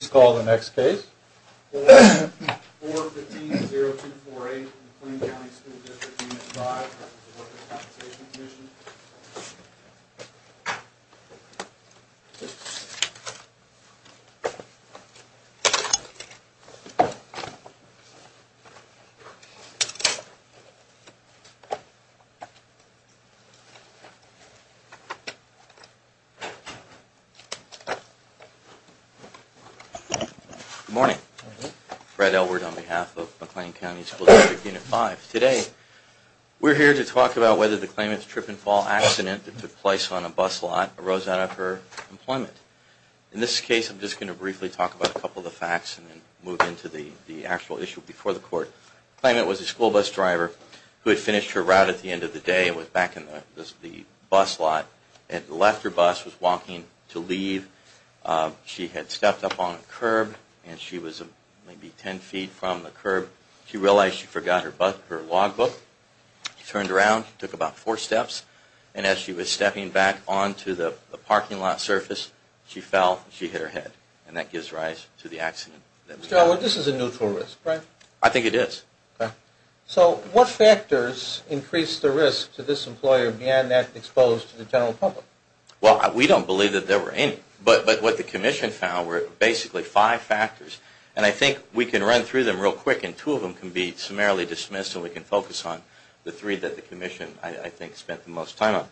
Let's call the next case, 4-15-0248 McLean County School District Unit 5, Workers' Compensation Commission. Good morning. Fred Elward on behalf of McLean County School District Unit 5. Today we're here to talk about whether the claimant's trip and fall accident that took place on a bus lot arose out of her employment. In this case, I'm just going to briefly talk about a couple of the facts and then move into the actual issue before the court. The claimant was a school bus driver who had finished her route at the end of the day and was back in the bus lot and left her bus, was walking to leave. She had stepped up on a curb and she was maybe 10 feet from the curb. She realized she forgot her log book. She turned around, took about four steps, and as she was stepping back onto the parking lot surface, she fell and she hit her head. And that gives rise to the accident. Mr. Elward, this is a neutral risk, right? I think it is. So what factors increased the risk to this employer being exposed to the general public? Well, we don't believe that there were any. But what the commission found were basically five factors. And I think we can run through them real quick and two of them can be summarily dismissed and we can focus on the three that the commission, I think, spent the most time on.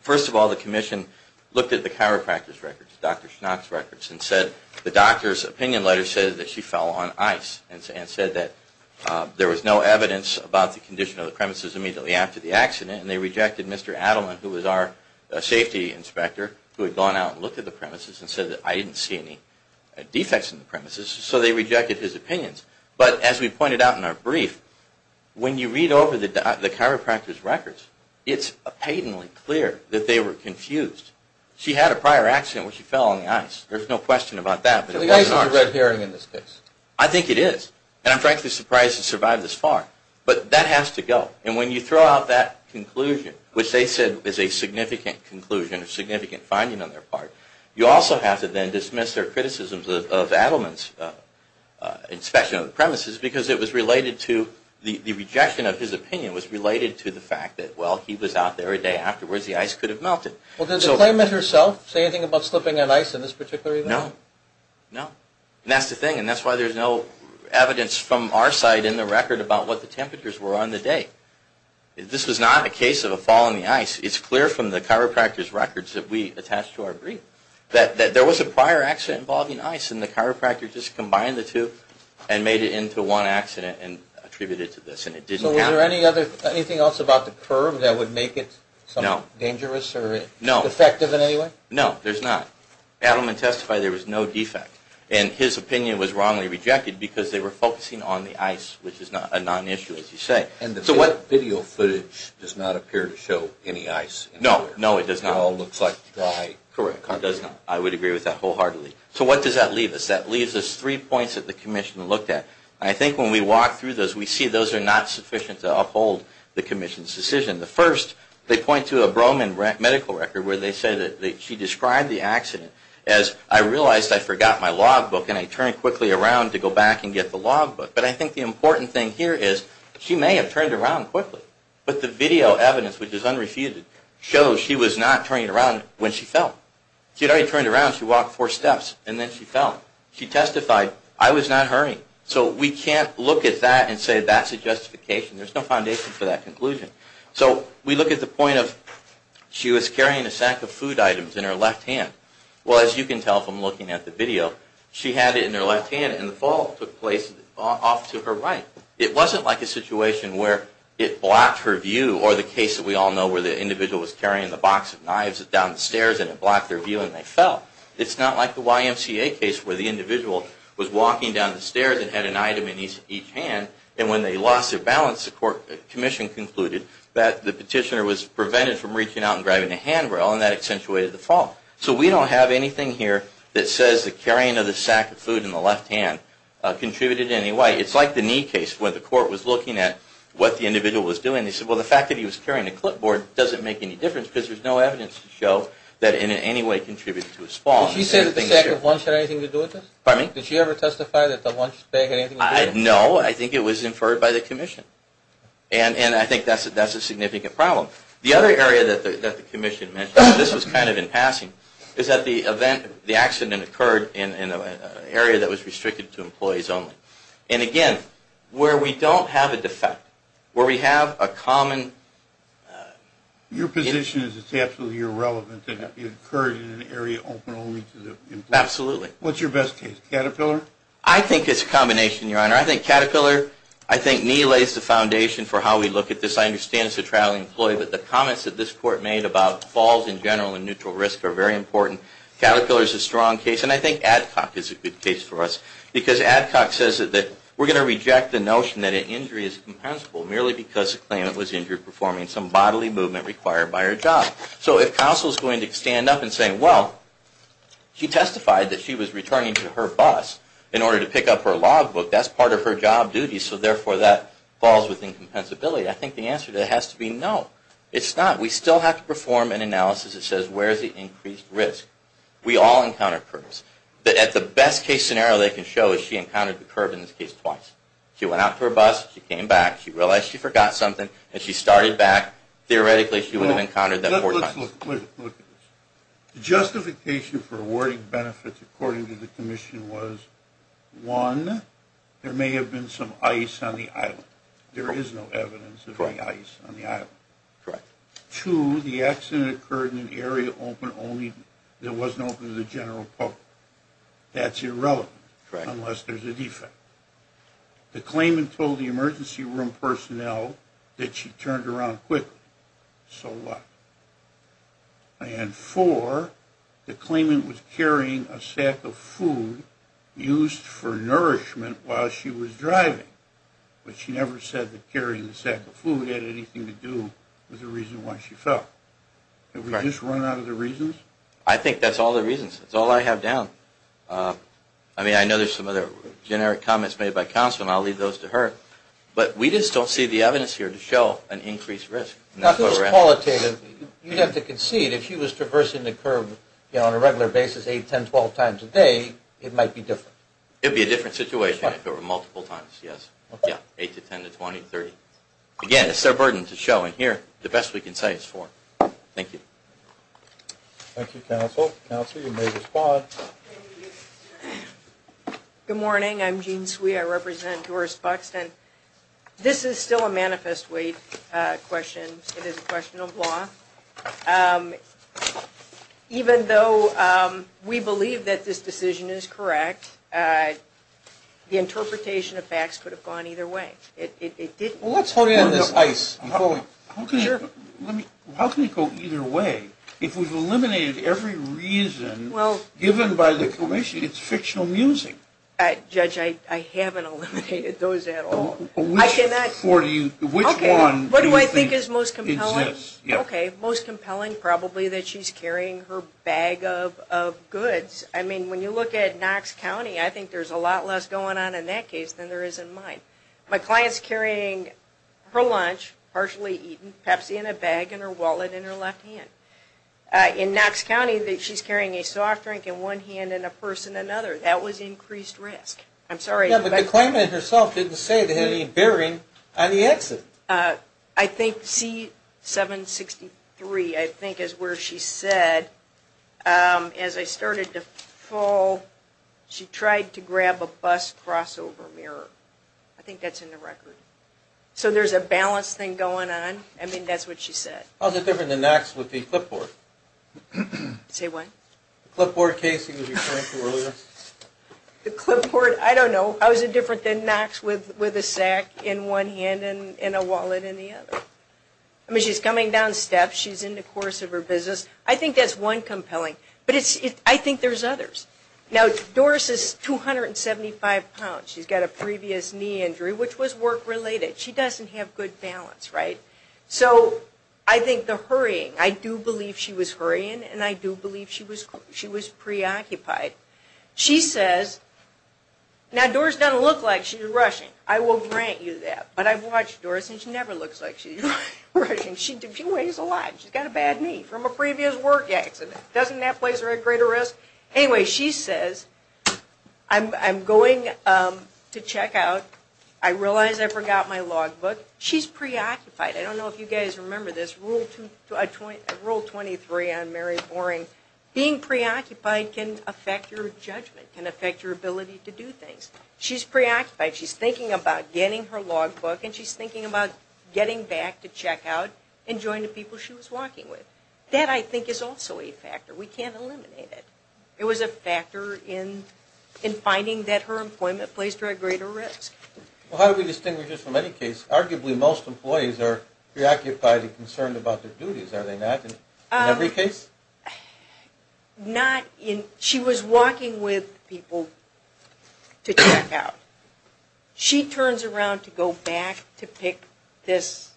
First of all, the commission looked at the chiropractor's records, Dr. Schnock's records, and said the doctor's opinion letter said that she fell on ice and said that there was no evidence about the condition of the premises immediately after the accident. And they rejected Mr. Adleman, who was our safety inspector, who had gone out and looked at the premises and said that I didn't see any defects in the premises. So they rejected his opinions. But as we pointed out in our brief, when you read over the chiropractor's records, it's patently clear that they were confused. She had a prior accident where she fell on the ice. There's no question about that. So the ice is a red herring in this case. I think it is. And I'm frankly surprised it survived this far. But that has to go. And when you throw out that conclusion, which they said is a significant conclusion, a significant finding on their part, you also have to then dismiss their criticisms of Adleman's inspection of the premises because it was related to the rejection of his opinion was related to the fact that, well, he was out there a day afterwards, the ice could have melted. Well, did the claimant herself say anything about slipping on ice in this particular event? No. No. And that's the thing. And that's why there's no evidence from our side in the record about what the temperatures were on the day. This was not a case of a fall in the ice. It's clear from the chiropractor's records that we attached to our brief that there was a prior accident involving ice and the chiropractor just combined the two and made it into one accident and attributed it to this. And it didn't count. So was there anything else about the curve that would make it dangerous or defective in any way? No. No, there's not. Adleman testified there was no defect. And his opinion was wrongly rejected because they were focusing on the ice, which is a non-issue, as you say. And the video footage does not appear to show any ice. No. No, it does not. It all looks like dry concrete. Correct. It does not. I would agree with that wholeheartedly. So what does that leave us? That leaves us three points that the commission looked at. I think when we walk through those, we see those are not sufficient to uphold the commission's decision. The first, they point to a Broman medical record where they say that she described the accident as, I realized I forgot my log book and I turned quickly around to go back and get the log book. But I think the important thing here is she may have turned around quickly. But the video evidence, which is unrefuted, shows she was not turning around when she fell. She had already turned around. She walked four steps and then she fell. She testified, I was not hurrying. So we can't look at that and say that's a justification. There's no foundation for that conclusion. So we look at the point of she was carrying a sack of food items in her left hand. Well, as you can tell from looking at the video, she had it in her left hand and the fall took place off to her right. It wasn't like a situation where it blocked her view or the case that we all know where the individual was carrying the box of knives down the stairs and it blocked their view and they fell. It's not like the YMCA case where the individual was walking down the stairs and had an item in each hand. And when they lost their balance, the commission concluded that the petitioner was prevented from reaching out and grabbing a handrail and that accentuated the fall. So we don't have anything here that says the carrying of the sack of food in the left hand contributed in any way. It's like the knee case where the court was looking at what the individual was doing. They said, well, the fact that he was carrying a clipboard doesn't make any difference because there's no evidence to show that it in any way contributed to his fall. Did she say that the sack of lunch had anything to do with it? Pardon me? No, I think it was inferred by the commission. And I think that's a significant problem. The other area that the commission mentioned, this was kind of in passing, is that the accident occurred in an area that was restricted to employees only. And again, where we don't have a defect, where we have a common... Your position is it's absolutely irrelevant that it occurred in an area open only to the employees. Absolutely. What's your best case, Caterpillar? I think it's a combination, Your Honor. I think Caterpillar, I think knee lays the foundation for how we look at this. I understand it's a traveling employee, but the comments that this court made about falls in general and neutral risk are very important. Caterpillar is a strong case, and I think Adcock is a good case for us. Because Adcock says that we're going to reject the notion that an injury is compensable merely because the claimant was injured performing some bodily movement required by her job. So if counsel is going to stand up and say, well, she testified that she was returning to her bus in order to pick up her logbook. That's part of her job duty, so therefore that falls within compensability. I think the answer to that has to be no. It's not. We still have to perform an analysis that says where is the increased risk. We all encounter curbs. At the best case scenario they can show is she encountered the curb in this case twice. She went out to her bus. She came back. She realized she forgot something, and she started back. Theoretically she would have encountered them four times. Let's look at this. The justification for awarding benefits according to the commission was, one, there may have been some ice on the island. There is no evidence of any ice on the island. Correct. Two, the accident occurred in an area that wasn't open to the general public. That's irrelevant unless there's a defect. The claimant told the emergency room personnel that she turned around quickly. So what? And four, the claimant was carrying a sack of food used for nourishment while she was driving, but she never said that carrying the sack of food had anything to do with the reason why she fell. Did we just run out of the reasons? I think that's all the reasons. That's all I have down. I mean, I know there's some other generic comments made by counsel, and I'll leave those to her, but we just don't see the evidence here to show an increased risk. Now, if it was qualitative, you'd have to concede if she was traversing the curve, you know, on a regular basis, 8, 10, 12 times a day, it might be different. It would be a different situation if it were multiple times, yes. Yeah, 8 to 10 to 20, 30. Again, it's their burden to show. And here, the best we can say is four. Thank you. Thank you, counsel. Counsel, you may respond. Good morning. I'm Jean Swee. I represent Doris Buxton. This is still a manifest weight question. It is a question of law. Even though we believe that this decision is correct, the interpretation of facts could have gone either way. It didn't. Well, let's hold you on this ice. How can it go either way? If we've eliminated every reason given by the commission, it's fictional music. Judge, I haven't eliminated those at all. Which one do you think exists? Okay, what do I think is most compelling? Okay, most compelling probably that she's carrying her bag of goods. I mean, when you look at Knox County, I think there's a lot less going on in that case than there is in mine. My client's carrying her lunch, partially eaten, Pepsi in a bag, and her wallet in her left hand. In Knox County, she's carrying a soft drink in one hand and a purse in another. That was increased risk. I'm sorry. Yeah, but the claimant herself didn't say they had any bearing on the accident. I think C763, I think is where she said, as I started to fall, she tried to grab a bus crossover mirror. I think that's in the record. So there's a balance thing going on. I mean, that's what she said. How is it different than Knox with the clipboard? Say what? The clipboard casing that you were referring to earlier. The clipboard, I don't know. How is it different than Knox with a sack in one hand and a wallet in the other? I mean, she's coming down steps. She's in the course of her business. I think that's one compelling. But I think there's others. Now, Doris is 275 pounds. She's got a previous knee injury, which was work-related. She doesn't have good balance, right? So I think the hurrying, I do believe she was hurrying, and I do believe she was preoccupied. She says, now, Doris doesn't look like she's rushing. I will grant you that. But I've watched Doris, and she never looks like she's rushing. She weighs a lot. She's got a bad knee from a previous work accident. Doesn't that place her at greater risk? Anyway, she says, I'm going to check out. I realize I forgot my logbook. She's preoccupied. I don't know if you guys remember this. Rule 23 on Mary Boring. Being preoccupied can affect your judgment, can affect your ability to do things. She's preoccupied. She's thinking about getting her logbook, and she's thinking about getting back to check out and joining the people she was walking with. That, I think, is also a factor. We can't eliminate it. It was a factor in finding that her employment placed her at greater risk. Well, how do we distinguish this from any case? Arguably, most employees are preoccupied and concerned about their duties, are they not, in every case? Not in – she was walking with people to check out. She turns around to go back to pick this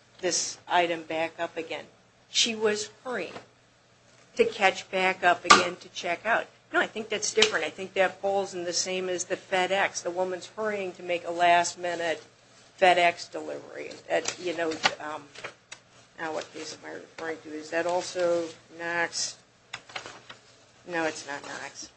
item back up again. She was hurrying to catch back up again to check out. No, I think that's different. I think that falls in the same as the FedEx. The woman's hurrying to make a last-minute FedEx delivery. Now what case am I referring to? Is that also Knox? No, it's not Knox.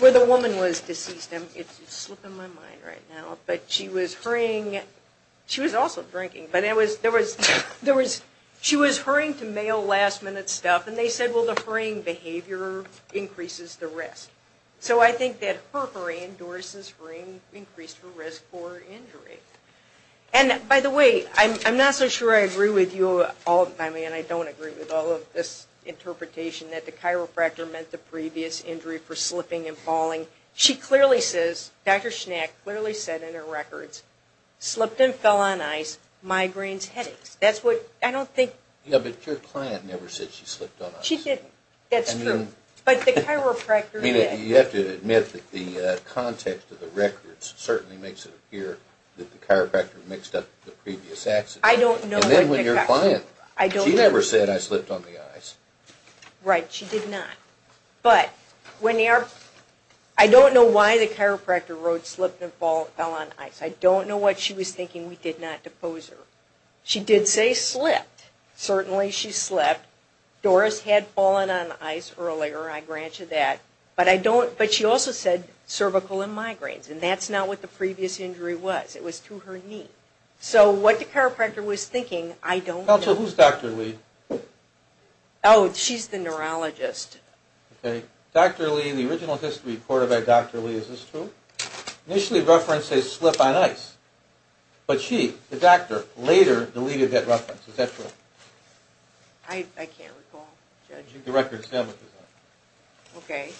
Where the woman was deceased. It's slipping my mind right now. But she was hurrying – she was also drinking. But there was – she was hurrying to mail last-minute stuff. And they said, well, the hurrying behavior increases the risk. So I think that her hurrying, Doris's hurrying, increased her risk for injury. And, by the way, I'm not so sure I agree with you all – I mean, I don't agree with all of this interpretation that the chiropractor meant the previous injury for slipping and falling. She clearly says – Dr. Schnack clearly said in her records, slipped and fell on ice, migraines, headaches. That's what – I don't think – Yeah, but your client never said she slipped on ice. She didn't. That's true. I mean – But the chiropractor did. I mean, you have to admit that the context of the records certainly makes it appear that the chiropractor mixed up the previous accident. I don't know what the – And then when your client – I don't know. She never said, I slipped on the ice. Right. She did not. But when the – I don't know why the chiropractor wrote slipped and fell on ice. I don't know what she was thinking. We did not depose her. She did say slipped. Certainly she slipped. Doris had fallen on ice earlier. I grant you that. But I don't – but she also said cervical and migraines. And that's not what the previous injury was. It was to her knee. So what the chiropractor was thinking, I don't know. Also, who's Dr. Lee? Oh, she's the neurologist. Okay. Dr. Lee in the original history report about Dr. Lee, is this true? Initially referenced a slip on ice. But she, the doctor, later deleted that reference. Is that true? I can't recall, Judge. The records still exist. Okay.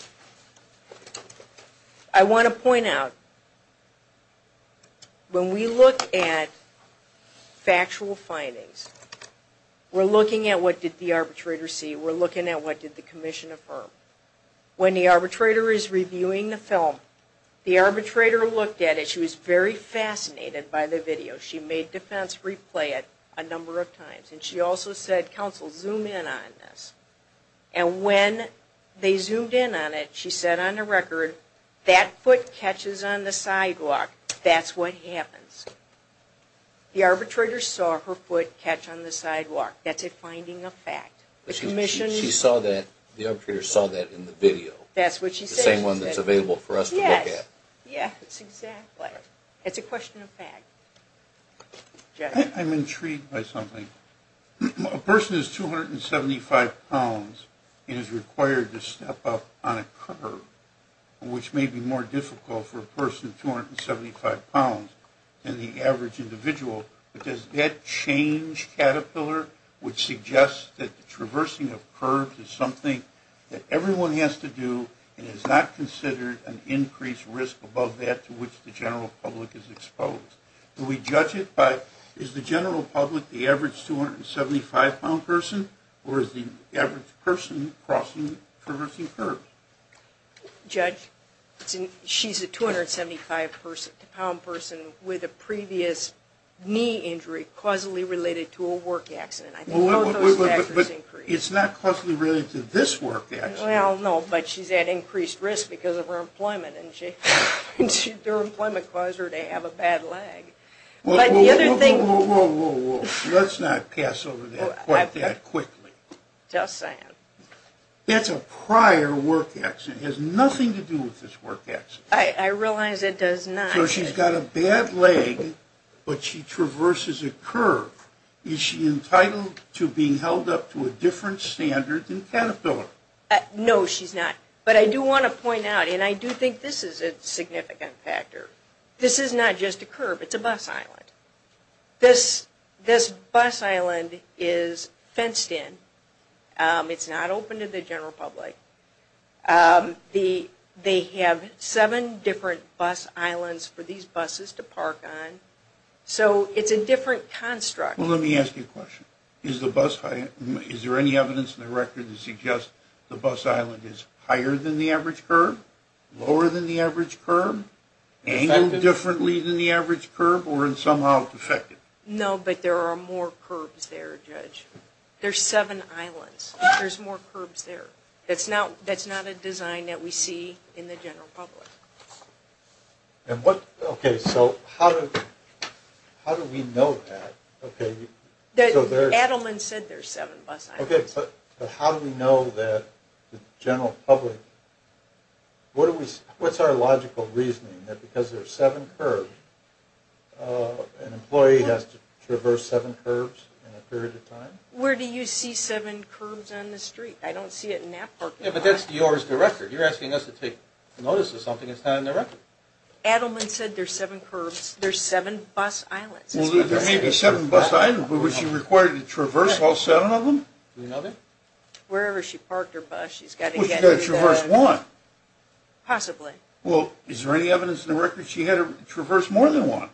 I want to point out, when we look at factual findings, we're looking at what did the arbitrator see. We're looking at what did the commission affirm. When the arbitrator is reviewing the film, the arbitrator looked at it. She was very fascinated by the video. She made defense replay it a number of times. And she also said, counsel, zoom in on this. And when they zoomed in on it, she said on the record, that foot catches on the sidewalk. That's what happens. The arbitrator saw her foot catch on the sidewalk. That's a finding of fact. She saw that, the arbitrator saw that in the video. That's what she said. The same one that's available for us to look at. Yes, exactly. It's a question of fact. I'm intrigued by something. A person is 275 pounds and is required to step up on a curb, which may be more difficult for a person 275 pounds than the average individual. But does that change Caterpillar, which suggests that the traversing of curbs is something that everyone has to do and is not considered an increased risk above that to which the general public is exposed? Do we judge it by, is the general public the average 275-pound person, or is the average person crossing, traversing curbs? Judge, she's a 275-pound person with a previous knee injury causally related to a work accident. I think both those factors increase. But it's not causally related to this work accident. Well, no, but she's at increased risk because of her employment, and their employment caused her to have a bad leg. But the other thing – Whoa, whoa, whoa, whoa, whoa, whoa. Let's not pass over that quite that quickly. Just saying. That's a prior work accident. It has nothing to do with this work accident. I realize it does not. So she's got a bad leg, but she traverses a curb. Is she entitled to being held up to a different standard than Caterpillar? No, she's not. But I do want to point out, and I do think this is a significant factor, this is not just a curb, it's a bus island. This bus island is fenced in. It's not open to the general public. They have seven different bus islands for these buses to park on. So it's a different construct. Well, let me ask you a question. Is there any evidence in the record that suggests the bus island is higher than the average curb, lower than the average curb, angled differently than the average curb, or somehow defective? No, but there are more curbs there, Judge. There's seven islands. There's more curbs there. That's not a design that we see in the general public. Okay, so how do we know that? Adelman said there's seven bus islands. Okay, but how do we know that the general public, what's our logical reasoning that because there's seven curbs, an employee has to traverse seven curbs in a period of time? Where do you see seven curbs on the street? I don't see it in that parking lot. Yeah, but that's yours, the record. You're asking us to take notice of something that's not in the record. Adelman said there's seven curbs. There's seven bus islands. Well, there may be seven bus islands, but was she required to traverse all seven of them? Do you know that? Wherever she parked her bus, she's got to get to the – Well, she's got to traverse one. Possibly. Well, is there any evidence in the record she had to traverse more than one?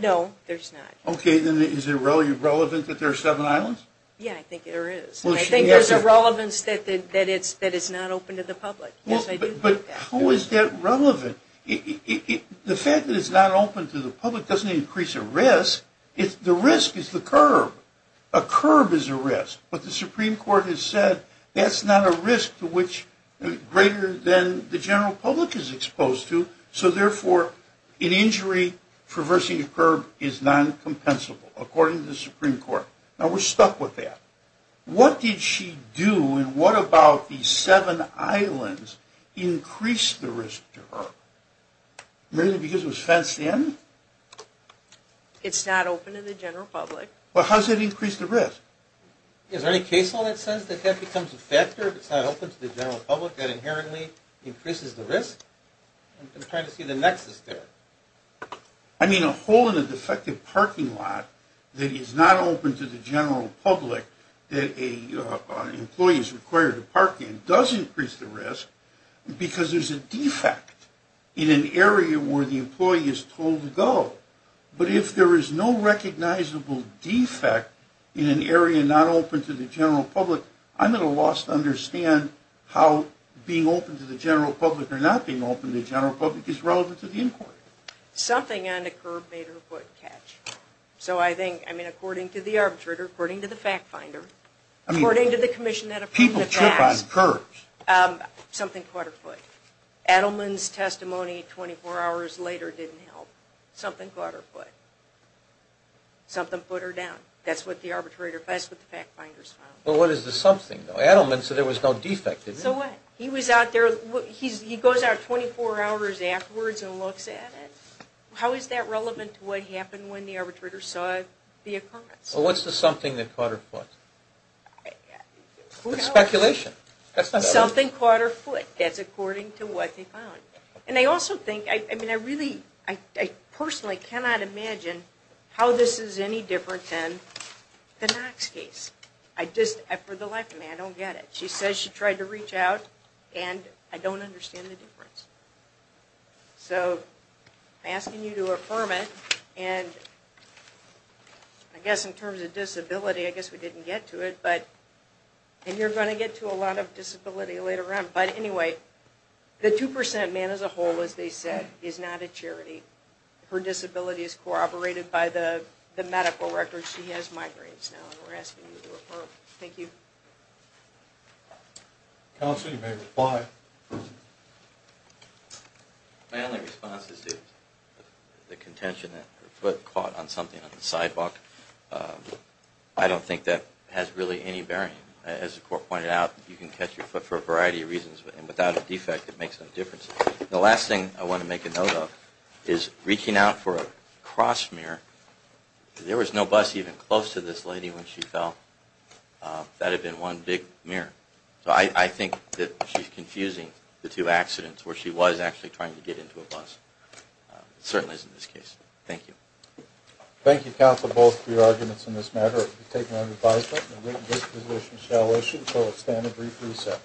No, there's not. Okay, then is it relevant that there are seven islands? Yeah, I think there is. Well, she – I think there's a relevance that it's not open to the public. Yes, I do think that. But how is that relevant? The fact that it's not open to the public doesn't increase a risk. The risk is the curb. A curb is a risk, but the Supreme Court has said that's not a risk to which greater than the general public is exposed to, so therefore an injury traversing a curb is non-compensable, according to the Supreme Court. Now, we're stuck with that. What did she do, and what about the seven islands, increased the risk to her? Mainly because it was fenced in? It's not open to the general public. Well, how does that increase the risk? Is there any case law that says that that becomes a factor, if it's not open to the general public, that inherently increases the risk? I'm trying to see the nexus there. I mean, a hole in a defective parking lot that is not open to the general public that an employee is required to park in does increase the risk because there's a defect in an area where the employee is told to go. But if there is no recognizable defect in an area not open to the general public, I'm at a loss to understand how being open to the general public or not being open to the general public is relevant to the inquiry. Something on the curb made her foot catch. So I think, I mean, according to the arbitrator, according to the fact finder, according to the commission that approved the class. People trip on curbs. Something caught her foot. Adelman's testimony 24 hours later didn't help. Something caught her foot. Something put her down. That's what the fact finders found. Well, what is the something, though? Adelman said there was no defect, didn't he? So what? He was out there. He goes out 24 hours afterwards and looks at it. How is that relevant to what happened when the arbitrator saw the occurrence? Well, what's the something that caught her foot? Who knows? It's speculation. Something caught her foot. That's according to what they found. And I also think, I mean, I really, I personally cannot imagine how this is any different than the Knox case. I just, for the life of me, I don't get it. She says she tried to reach out, and I don't understand the difference. So I'm asking you to affirm it, and I guess in terms of disability, I guess we didn't get to it, but, and you're going to get to a lot of disability later on. But anyway, the 2% man as a whole, as they said, is not a charity. Her disability is corroborated by the medical records. She has migraines now, and we're asking you to affirm. Thank you. Counsel, you may reply. My only response is to the contention that her foot caught on something on the sidewalk. I don't think that has really any bearing. As the court pointed out, you can catch your foot for a variety of reasons, and without a defect, it makes no difference. The last thing I want to make a note of is reaching out for a cross mirror. There was no bus even close to this lady when she fell. That had been one big mirror. So I think that she's confusing the two accidents where she was actually trying to get into a bus. It certainly isn't this case. Thank you. Thank you, counsel, both for your arguments in this matter. The court will be taking on an advisement. The witness position shall issue for a standard brief recess.